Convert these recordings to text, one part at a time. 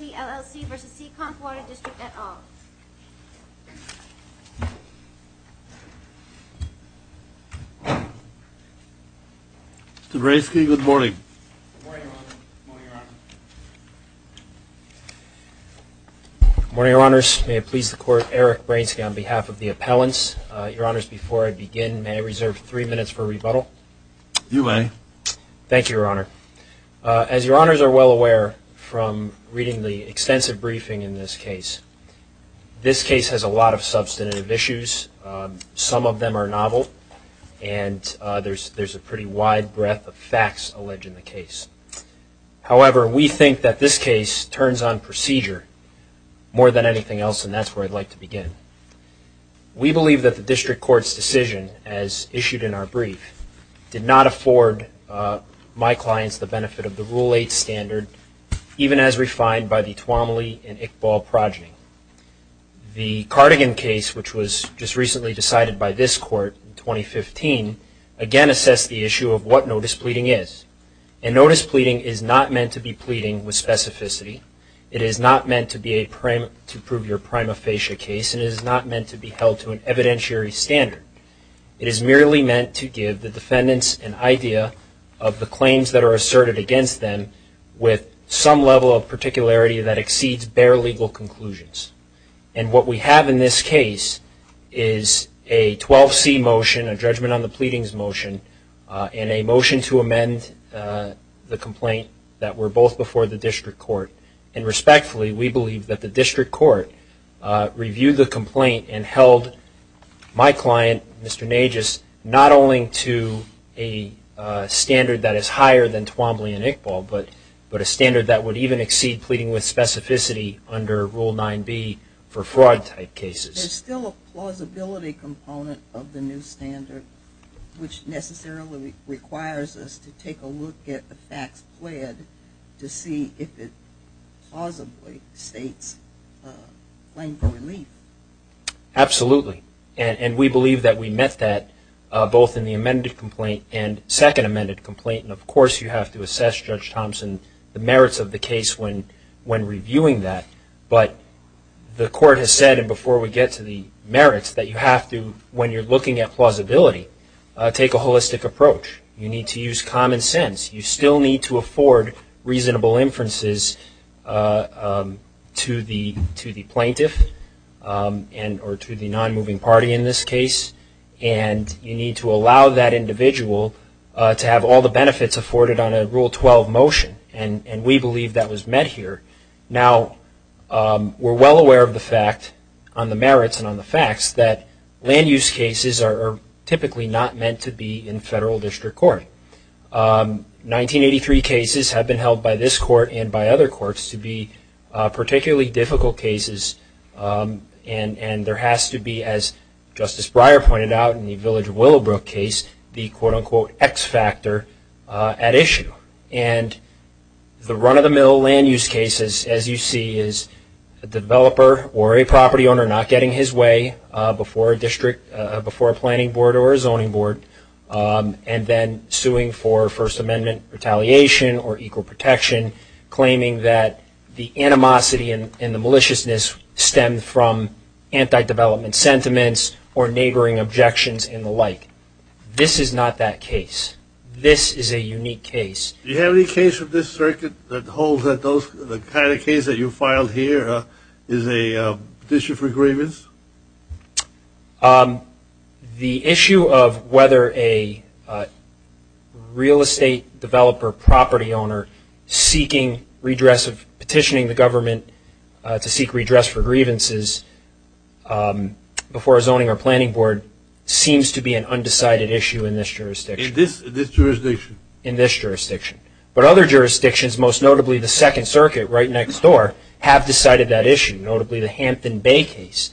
at all. Mr. Bransky, good morning. Good morning, Your Honor. Good morning, Your Honor. Good morning, Your Honors. May it please the Court, Eric Bransky on behalf of the appellants. Your Honors, before I begin, may I reserve three minutes for rebuttal? You may. Thank briefing in this case. This case has a lot of substantive issues. Some of them are novel, and there's a pretty wide breadth of facts alleged in the case. However, we think that this case turns on procedure more than anything else, and that's where I'd like to begin. We believe that the District Court's decision, as issued in our brief, did not afford my and Iqbal progeny. The Cardigan case, which was just recently decided by this Court in 2015, again assessed the issue of what notice pleading is. And notice pleading is not meant to be pleading with specificity. It is not meant to prove your prima facie case, and it is not meant to be held to an evidentiary standard. It is merely meant to give the defendants an idea of the claims that are asserted against them with some level of particularity that exceeds bare legal conclusions. And what we have in this case is a 12C motion, a judgment on the pleadings motion, and a motion to amend the complaint that were both before the District Court. And respectfully, we believe that the District Court reviewed the complaint and not only to a standard that is higher than Twombly and Iqbal, but a standard that would even exceed pleading with specificity under Rule 9B for fraud type cases. There's still a plausibility component of the new standard, which necessarily requires us to take a look at the facts pled to see if it plausibly states a claim for relief. Absolutely. And we believe that we met that both in the amended complaint and second amended complaint. And of course, you have to assess, Judge Thompson, the merits of the case when reviewing that. But the Court has said, and before we get to the merits, that you have to, when you're looking at plausibility, take a holistic approach. You need to use common sense. You still need to afford reasonable inferences to the plaintiff or to the non-moving party in this case. And you need to allow that individual to have all the benefits afforded on a Rule 12 motion. And we believe that was met here. Now, we're well aware of the fact, on the merits and on the facts, that land use cases are typically not meant to be in federal district court. 1983 cases have been held by this Court and by other courts to be particularly difficult cases. And there has to be, as Justice Breyer pointed out in the Village of Willowbrook case, the quote-unquote X factor at issue. And the run-of-the-mill land use cases, as you see, is a developer or a property owner not getting his way before a district, before a planning board or a zoning board, and then suing for First Amendment retaliation or equal protection, claiming that the animosity and the maliciousness stem from anti-development sentiments or neighboring objections and the like. This is not that case. This is a unique case. Do you have any case of this circuit that holds that those, the kind of case that you filed here is a petition for grievance? The issue of whether a real estate developer, property owner, seeking redress, petitioning the government to seek redress for grievances before a zoning or planning board seems to be an undecided issue in this jurisdiction. In this jurisdiction? In this jurisdiction. But other jurisdictions, most notably the Second Circuit right next door, have decided that issue, notably the Hampton Bay case.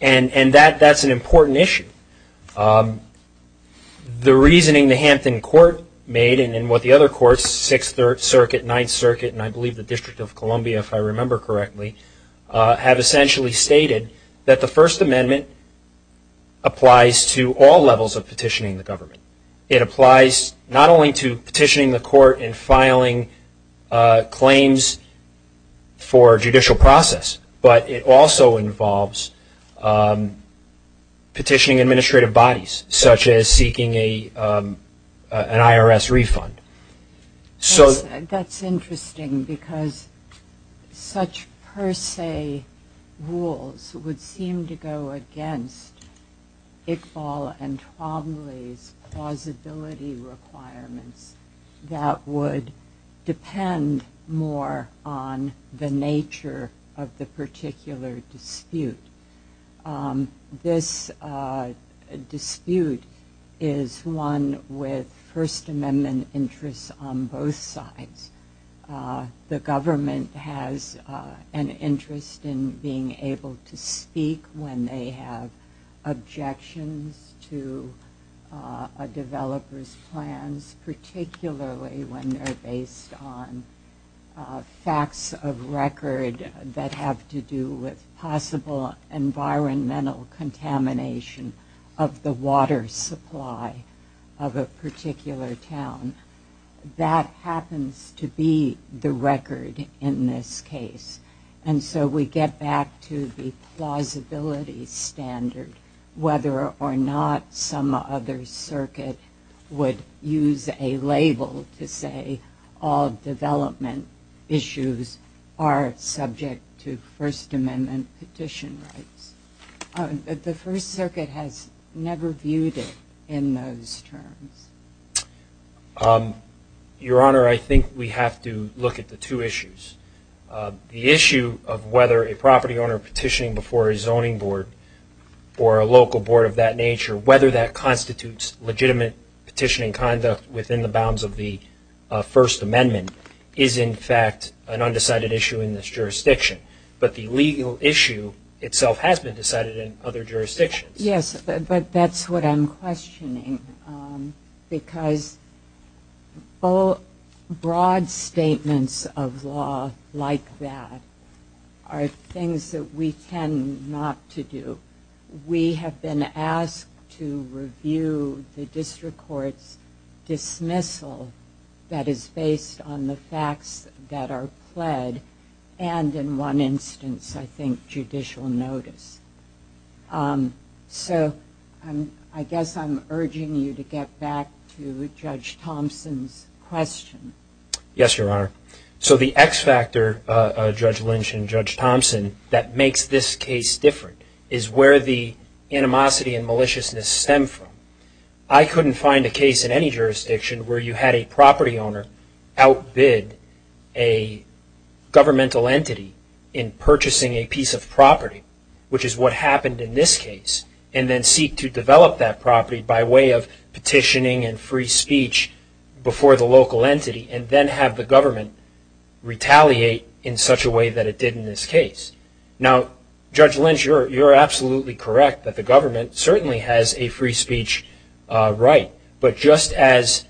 And that's an important issue. The reasoning the Hampton Court made and what the other courts, Sixth Circuit, Ninth Circuit, and I believe the District of Columbia, if I remember correctly, have essentially stated that the First Amendment applies to all levels of petitioning the government. It applies not only to petitioning the court and filing claims for judicial process, but it also involves petitioning administrative bodies, such as seeking an IRS refund. That's interesting because such per se rules would seem to go against Iqbal and Twombly's plausibility requirements that would depend more on the nature of the particular dispute. This dispute is one with First Amendment interests on both sides. The government has an interest in being able to speak when they have objections to a developer's plans, particularly when they're based on facts of record that have to do with possible environmental contamination of the water supply of a particular town. That happens to be the record in this case. And so we get back to the plausibility standard, whether or not some other circuit would use a label to say all development issues are subject to First Amendment petition rights. The First Circuit has never viewed it in those terms. Your Honor, I think we have to look at the two issues. The issue of whether a property owner petitioning before a zoning board or a local board of that nature, whether that within the bounds of the First Amendment, is in fact an undecided issue in this jurisdiction. But the legal issue itself has been decided in other jurisdictions. Yes, but that's what I'm questioning because broad statements of law like that are things that we tend not to do. We have been asked to review the district court's dismissal that is based on the facts that are pled and in one instance, I think, judicial notice. So I guess I'm urging you to get back to Judge Thompson's question. Yes, Your Honor. So the X factor, Judge Lynch and Judge Thompson, that makes this case different is where the animosity and maliciousness stem from. I couldn't find a case in any jurisdiction where you had a property owner outbid a governmental entity in purchasing a piece of property, which is what happened in this case, and then seek to develop that property by way of petitioning and free speech before the local entity and then have the government retaliate in such a way that it did in this case. Now, Judge Lynch, you're absolutely correct that the government certainly has a free speech right, but just as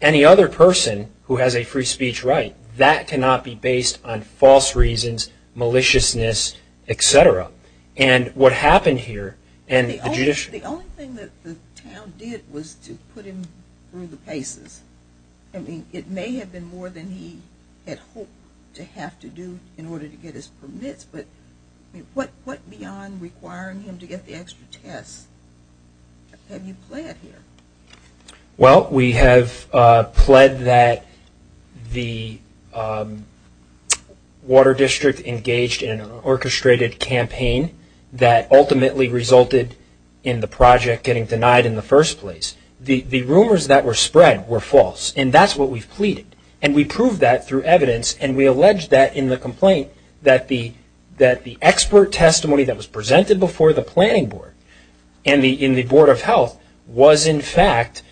any other person who has a free speech right, that cannot be based on false reasons, maliciousness, et cetera. And what happened here The only thing that the town did was to put him through the paces. I mean, it may have been more than he had hoped to have to do in order to get his permits, but what beyond requiring him to get the extra tests have you pled here? Well, we have pled that the Water District engaged in an orchestrated campaign that ultimately resulted in the project getting denied in the first place. The rumors that were spread were false, and that's what we've pleaded. And we proved that through evidence, and we allege that in the complaint that the expert testimony that was presented before the planning board and in the Board of Health was, in fact,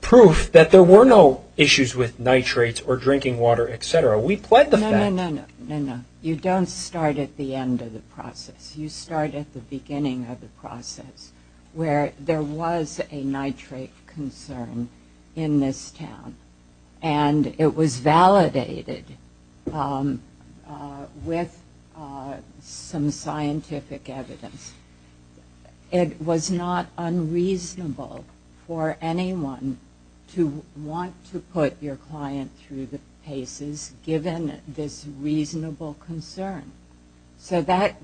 proof that there were no issues with nitrates or drinking water, et cetera. We pled the fact. No, no, no. You don't start at the end of the process. You start at the beginning of the process where there was a nitrate concern in this town, and it was validated with some scientific evidence. It was not unreasonable for anyone to want to put your client through the paces given this reasonable concern. So that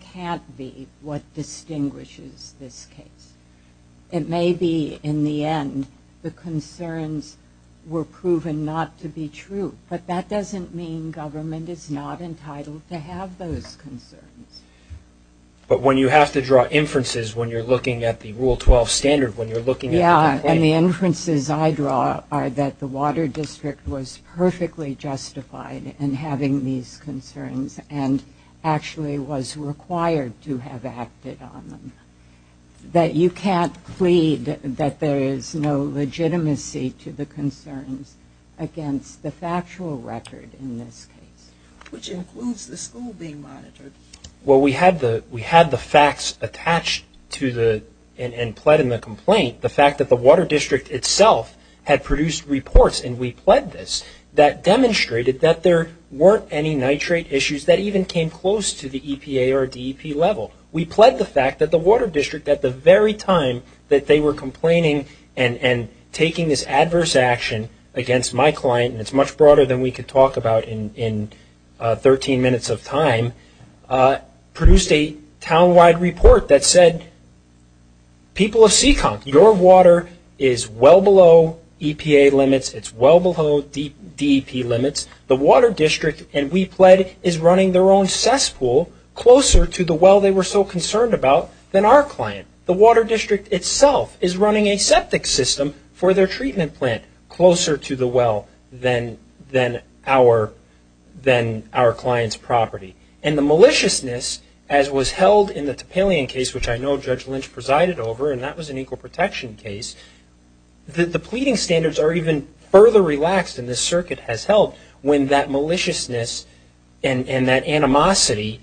can't be what distinguishes this case. It may be, in the end, the concerns were proven not to be true, but that doesn't mean government is not entitled to have those concerns. But when you have to draw inferences when you're looking at the Rule 12 standard, when you're looking at the complaint... Yeah, and the inferences I draw are that the water district was perfectly justified in having these concerns and actually was required to have acted on them, that you can't plead that there is no legitimacy to the concerns against the factual record in this case. Which includes the school being monitored. Well, we had the facts attached and pled in the complaint. The fact that the water district itself had produced reports, and we pled this, that demonstrated that there weren't any nitrate issues that even came close to the EPA or DEP level. We pled the fact that the water district, at the very time that they were complaining and taking this adverse action against my client, and it's much broader than we could talk about in 13 minutes of time, produced a town-wide report that said, people of Seekonk, your water is well below EPA limits, it's well below DEP limits. The water district, and we pled, is running their own cesspool closer to the well they were so concerned about than our client. The water district itself is running a septic system for their treatment plant closer to the well than our client's property. And the maliciousness, as was held in the Topalian case, which I know Judge Lynch presided over, and that was an equal protection case, the pleading standards are even further relaxed, and this circuit has helped, when that maliciousness and that animosity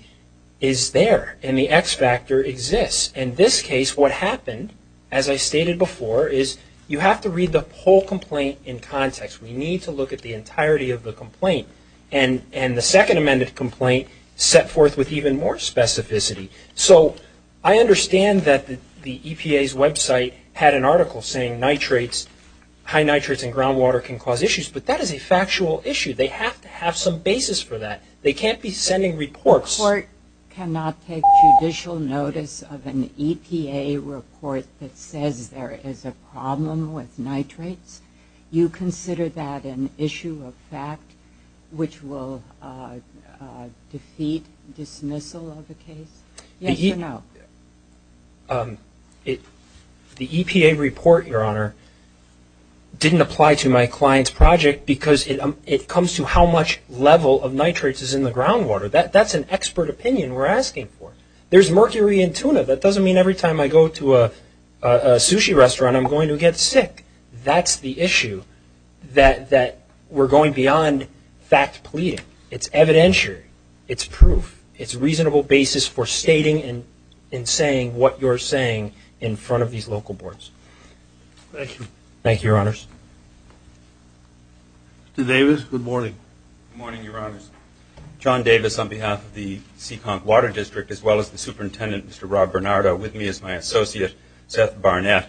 is there, and the X factor exists. In this case, what happened, as I stated before, is you have to read the whole complaint in context. We need to look at the entirety of the complaint. And the second amended complaint set forth with even more specificity. So I understand that the EPA's website had an article saying nitrates, high nitrates in groundwater can cause issues, but that is a factual issue. They have to have some basis for that. They can't be sending reports. The report cannot take judicial notice of an EPA report that says there is a problem with nitrates. You consider that an issue of fact which will defeat dismissal of the case? Yes or no? The EPA report, Your Honor, didn't apply to my client's project because it comes to how much level of nitrates is in the groundwater. That's an expert opinion we're asking for. There's mercury in tuna. That doesn't mean every time I go to a sushi restaurant I'm going to get sick. That's the issue that we're going beyond fact pleading. It's evidentiary. It's proof. It's a reasonable basis for stating and saying what you're saying in front of these local boards. Thank you. Thank you, Your Honors. Mr. Davis, good morning. Good morning, Your Honors. John Davis on behalf of the Seekonk Water District as well as the superintendent, Mr. Rob Bernardo, with me is my associate, Seth Barnett.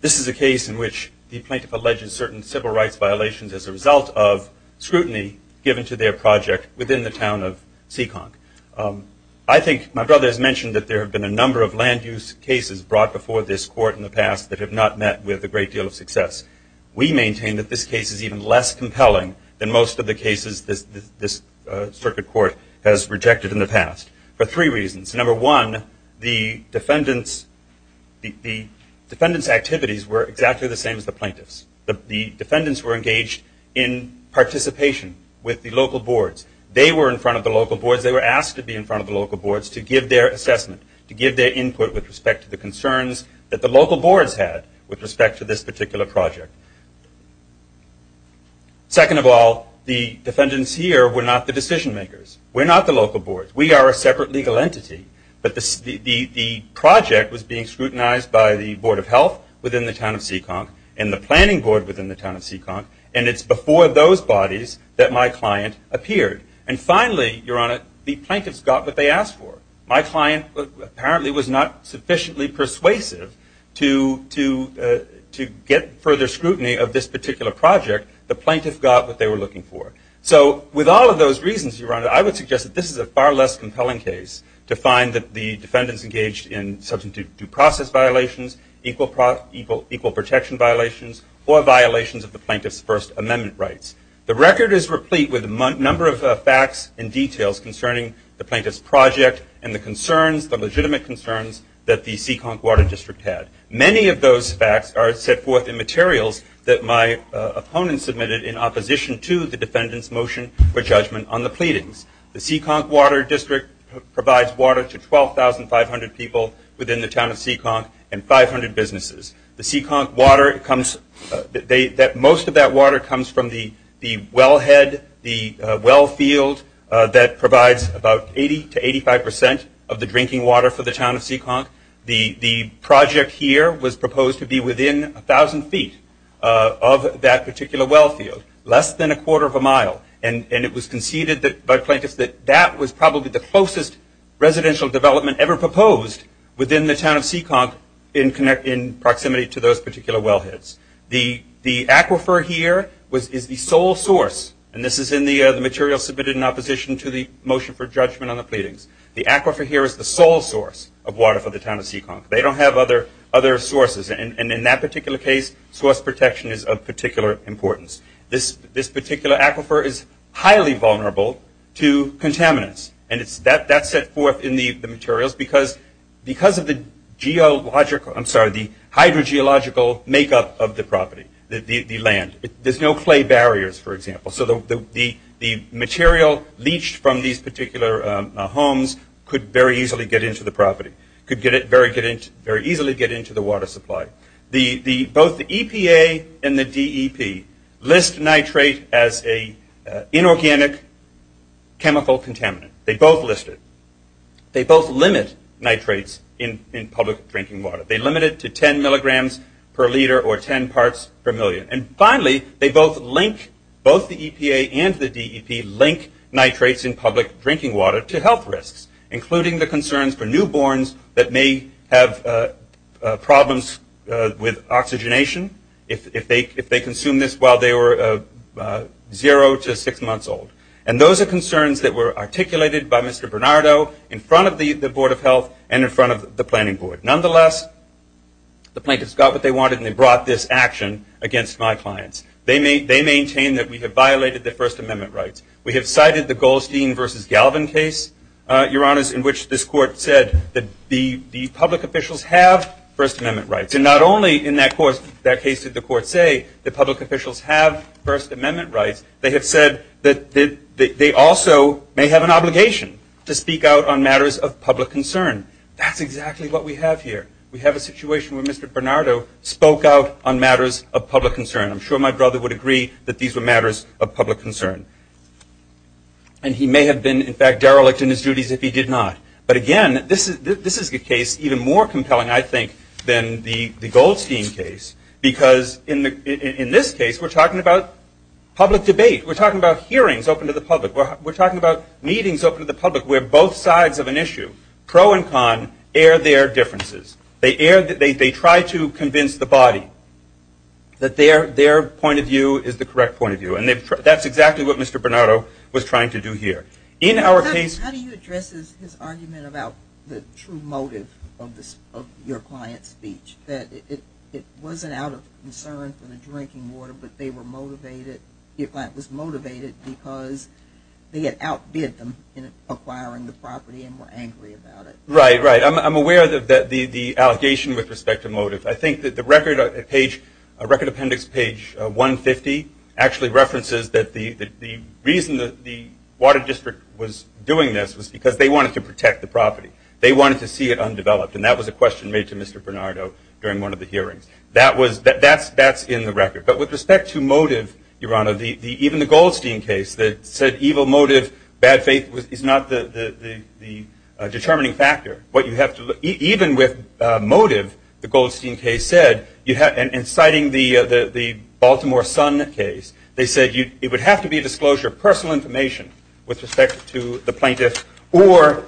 This is a case in which the plaintiff alleges certain civil rights violations as a result of scrutiny given to their project within the town of Seekonk. I think my brother has mentioned that there have been a number of land use cases brought before this court in the past that have not met with a great deal of success. We maintain that this case is even less compelling than most of the cases this circuit court has rejected in the past for three reasons. Number one, the defendant's activities were exactly the same as the plaintiff's. The defendants were engaged in participation with the local boards. They were in front of the local boards. They were asked to be in front of the local boards to give their assessment, to give their input with respect to the concerns that the local boards had with respect to this particular project. Second of all, the defendants here were not the decision makers. We're not the local boards. We are a separate legal entity. But the project was being scrutinized by the Board of Health within the town of Seekonk and the planning board within the town of Seekonk, and it's before those bodies that my client appeared. And finally, Your Honor, the plaintiffs got what they asked for. My client apparently was not sufficiently persuasive to get further scrutiny of this particular project. The plaintiff got what they were looking for. So with all of those reasons, Your Honor, I would suggest that this is a far less compelling case to find that the defendants engaged in substantive due process violations, equal protection violations, or violations of the plaintiff's First Amendment rights. The record is replete with a number of facts and details concerning the plaintiff's project and the concerns, the legitimate concerns that the Seekonk Water District had. Many of those facts are set forth in materials that my opponent submitted in opposition to the defendant's motion for judgment on the pleadings. The Seekonk Water District provides water to 12,500 people within the town of Seekonk and 500 businesses. The Seekonk water comes – most of that water comes from the wellhead, the wellfield that provides about 80% to 85% of the drinking water for the town of Seekonk. The project here was proposed to be within 1,000 feet of that particular wellfield, less than a quarter of a mile. And it was conceded by plaintiffs that that was probably the closest residential development ever proposed within the town of Seekonk in proximity to those particular wellheads. The aquifer here is the sole source – and this is in the material submitted in opposition to the motion for judgment on the pleadings. The aquifer here is the sole source of water for the town of Seekonk. They don't have other sources. And in that particular case, source protection is of particular importance. This particular aquifer is highly vulnerable to contaminants. And that's set forth in the materials because of the geological – of the property, the land. There's no clay barriers, for example. So the material leached from these particular homes could very easily get into the property, could very easily get into the water supply. Both the EPA and the DEP list nitrate as an inorganic chemical contaminant. They both list it. They both limit nitrates in public drinking water. They limit it to 10 milligrams per liter or 10 parts per million. And finally, they both link – both the EPA and the DEP link nitrates in public drinking water to health risks, including the concerns for newborns that may have problems with oxygenation if they consume this while they were zero to six months old. And those are concerns that were articulated by Mr. Bernardo in front of the Board of Health and in front of the planning board. Nonetheless, the plaintiffs got what they wanted, and they brought this action against my clients. They maintain that we have violated the First Amendment rights. We have cited the Goldstein v. Galvin case, Your Honors, in which this court said that the public officials have First Amendment rights. And not only in that case did the court say that public officials have First Amendment rights, they have said that they also may have an obligation to speak out on matters of public concern. That's exactly what we have here. We have a situation where Mr. Bernardo spoke out on matters of public concern. I'm sure my brother would agree that these were matters of public concern. And he may have been, in fact, derelict in his duties if he did not. But again, this is a case even more compelling, I think, than the Goldstein case because in this case we're talking about public debate. We're talking about hearings open to the public. Pro and con air their differences. They try to convince the body that their point of view is the correct point of view. And that's exactly what Mr. Bernardo was trying to do here. How do you address his argument about the true motive of your client's speech, that it wasn't out of concern for the drinking water, but your client was motivated because they had outbid them in acquiring the property and were angry about it? Right, right. I'm aware of the allegation with respect to motive. I think that the record appendix, page 150, actually references that the reason the water district was doing this was because they wanted to protect the property. They wanted to see it undeveloped. And that was a question made to Mr. Bernardo during one of the hearings. That's in the record. But with respect to motive, Your Honor, even the Goldstein case that said evil motive, bad faith is not the determining factor. Even with motive, the Goldstein case said, inciting the Baltimore Sun case, they said it would have to be disclosure of personal information with respect to the plaintiff, or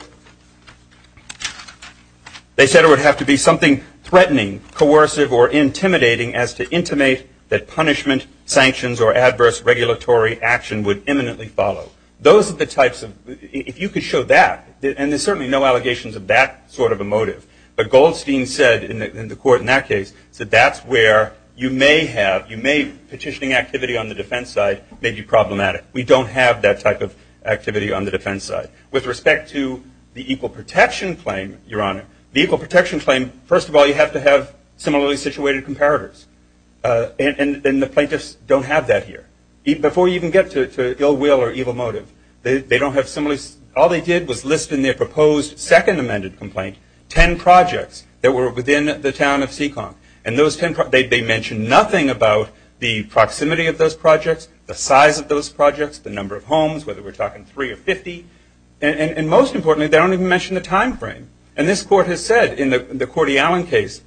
they said it would have to be something threatening, coercive, or intimidating as to intimate that punishment, sanctions, or adverse regulatory action would imminently follow. Those are the types of, if you could show that, and there's certainly no allegations of that sort of a motive, but Goldstein said in the court in that case, said that's where you may have, you may, petitioning activity on the defense side may be problematic. We don't have that type of activity on the defense side. With respect to the equal protection claim, Your Honor, the equal protection claim, first of all, you have to have similarly situated comparators, and the plaintiffs don't have that here. Before you even get to ill will or evil motive, all they did was list in their proposed second amended complaint 10 projects that were within the town of Seekonk, and they mentioned nothing about the proximity of those projects, the size of those projects, the number of homes, whether we're talking 3 or 50, and most importantly, they don't even mention the time frame. And this court has said in the Cordy Allen case,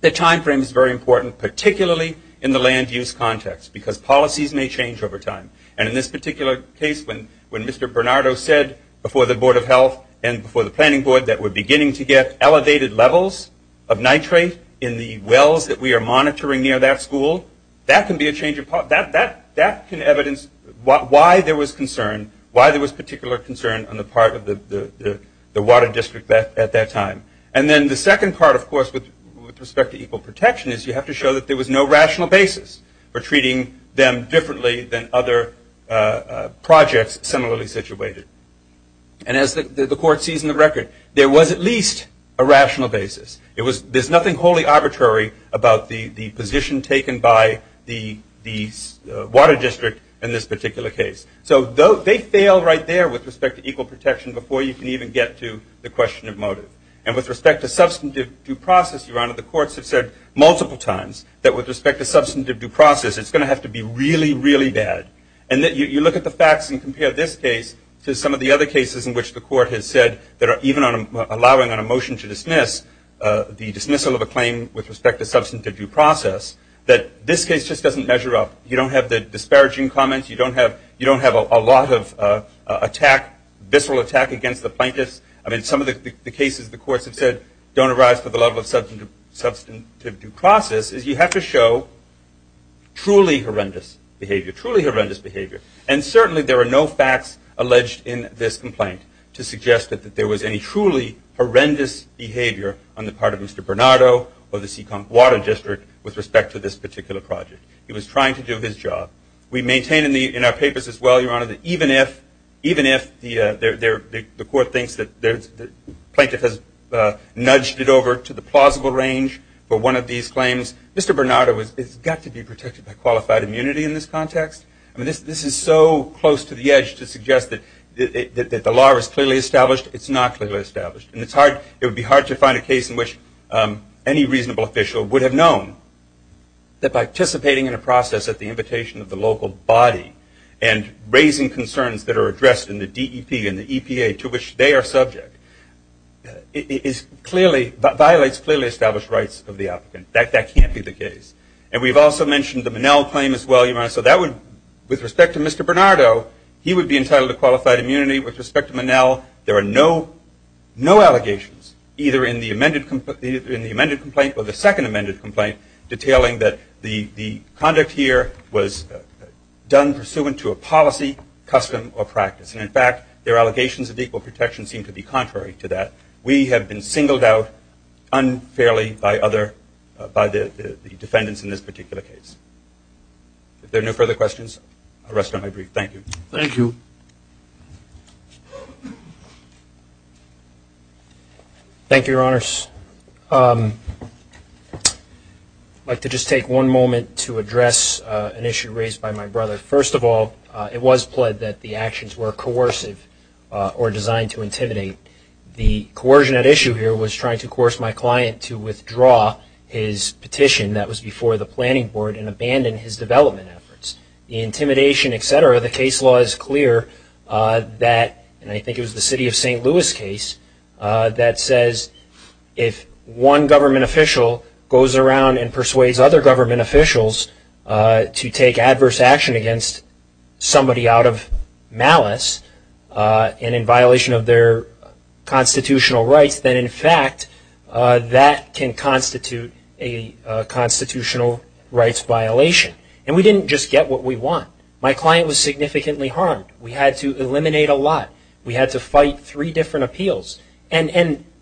the time frame is very important, particularly in the land use context, because policies may change over time. And in this particular case, when Mr. Bernardo said before the Board of Health and before the planning board that we're beginning to get elevated levels of nitrate in the wells that we are monitoring near that school, that can be a change of, that can evidence why there was concern, on the part of the water district at that time. And then the second part, of course, with respect to equal protection, is you have to show that there was no rational basis for treating them differently than other projects similarly situated. And as the court sees in the record, there was at least a rational basis. There's nothing wholly arbitrary about the position taken by the water district in this particular case. So they fail right there with respect to equal protection before you can even get to the question of motive. And with respect to substantive due process, Your Honor, the courts have said multiple times that with respect to substantive due process, it's going to have to be really, really bad. And you look at the facts and compare this case to some of the other cases in which the court has said that are even allowing on a motion to dismiss the dismissal of a claim with respect to substantive due process, that this case just doesn't measure up. You don't have the disparaging comments. You don't have a lot of attack, visceral attack against the plaintiffs. I mean, some of the cases the courts have said don't arise to the level of substantive due process is you have to show truly horrendous behavior, truly horrendous behavior. And certainly there are no facts alleged in this complaint to suggest that there was any truly horrendous behavior on the part of Mr. Bernardo or the Seekonk Water District with respect to this particular project. He was trying to do his job. We maintain in our papers as well, Your Honor, that even if the court thinks that the plaintiff has nudged it over to the plausible range for one of these claims, Mr. Bernardo has got to be protected by qualified immunity in this context. I mean, this is so close to the edge to suggest that the law is clearly established. It's not clearly established. And it would be hard to find a case in which any reasonable official would have known that by participating in a process at the invitation of the local body and raising concerns that are addressed in the DEP and the EPA to which they are subject violates clearly established rights of the applicant. That can't be the case. And we've also mentioned the Monell claim as well, Your Honor. So with respect to Mr. Bernardo, he would be entitled to qualified immunity. With respect to Monell, there are no allegations, either in the amended complaint or the second amended complaint, detailing that the conduct here was done pursuant to a policy, custom, or practice. And, in fact, their allegations of equal protection seem to be contrary to that. We have been singled out unfairly by the defendants in this particular case. If there are no further questions, I'll rest on my brief. Thank you. Thank you. Thank you, Your Honors. I'd like to just take one moment to address an issue raised by my brother. First of all, it was pled that the actions were coercive or designed to intimidate. The coercion at issue here was trying to coerce my client to withdraw his petition that was before the planning board and abandon his development efforts. The intimidation, et cetera, the case law is clear that, and I think it was the city of St. Louis case, that says if one government official goes around and persuades other government officials to take adverse action against somebody out of malice and in violation of their constitutional rights, then, in fact, that can constitute a constitutional rights violation. And we didn't just get what we want. My client was significantly harmed. We had to eliminate a lot. We had to fight three different appeals. And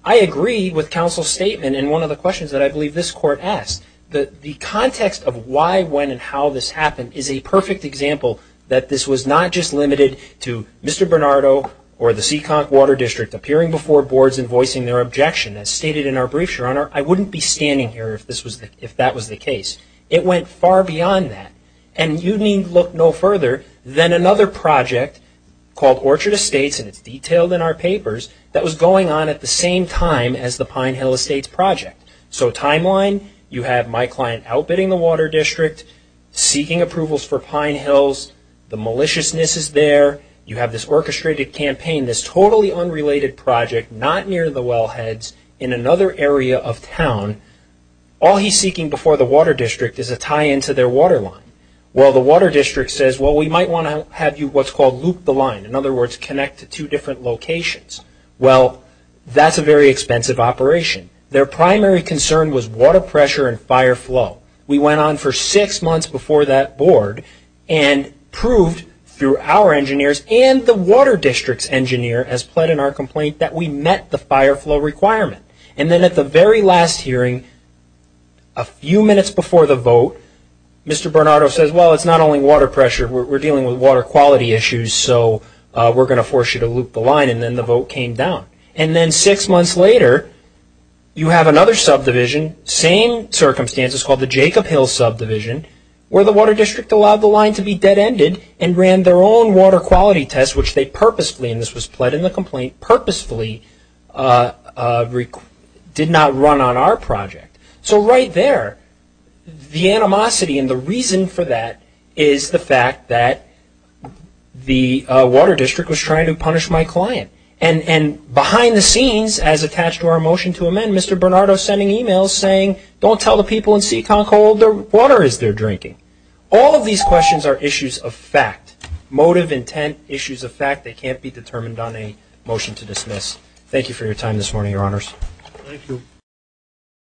I agree with counsel's statement in one of the questions that I believe this court asked. The context of why, when, and how this happened is a perfect example that this was not just limited to Mr. Bernardo or the Seekonk Water District appearing before boards and voicing their objection. As stated in our brief, Your Honor, I wouldn't be standing here if that was the case. It went far beyond that. And you need look no further than another project called Orchard Estates, and it's detailed in our papers, that was going on at the same time as the Pine Hill Estates project. So timeline, you have my client outbidding the Water District, seeking approvals for Pine Hills. The maliciousness is there. You have this orchestrated campaign, this totally unrelated project, not near the wellheads in another area of town. All he's seeking before the Water District is a tie-in to their water line. Well, the Water District says, well, we might want to have you what's called loop the line, in other words, connect to two different locations. Well, that's a very expensive operation. Their primary concern was water pressure and fire flow. We went on for six months before that board and proved through our engineers and the Water District's engineer, as pled in our complaint, that we met the fire flow requirement. And then at the very last hearing, a few minutes before the vote, Mr. Bernardo says, well, it's not only water pressure, we're dealing with water quality issues, so we're going to force you to loop the line, and then the vote came down. And then six months later, you have another subdivision, same circumstances, called the Jacob Hill Subdivision, where the Water District allowed the line to be dead-ended and ran their own water quality test, which they purposefully, and this was pled in the complaint, purposefully did not run on our project. So right there, the animosity and the reason for that is the fact that the Water District was trying to punish my client. And behind the scenes, as attached to our motion to amend, Mr. Bernardo is sending emails saying, don't tell the people in Seekonko all the water is they're drinking. All of these questions are issues of fact, motive, intent, issues of fact. They can't be determined on a motion to dismiss. Thank you for your time this morning, Your Honors. Thank you.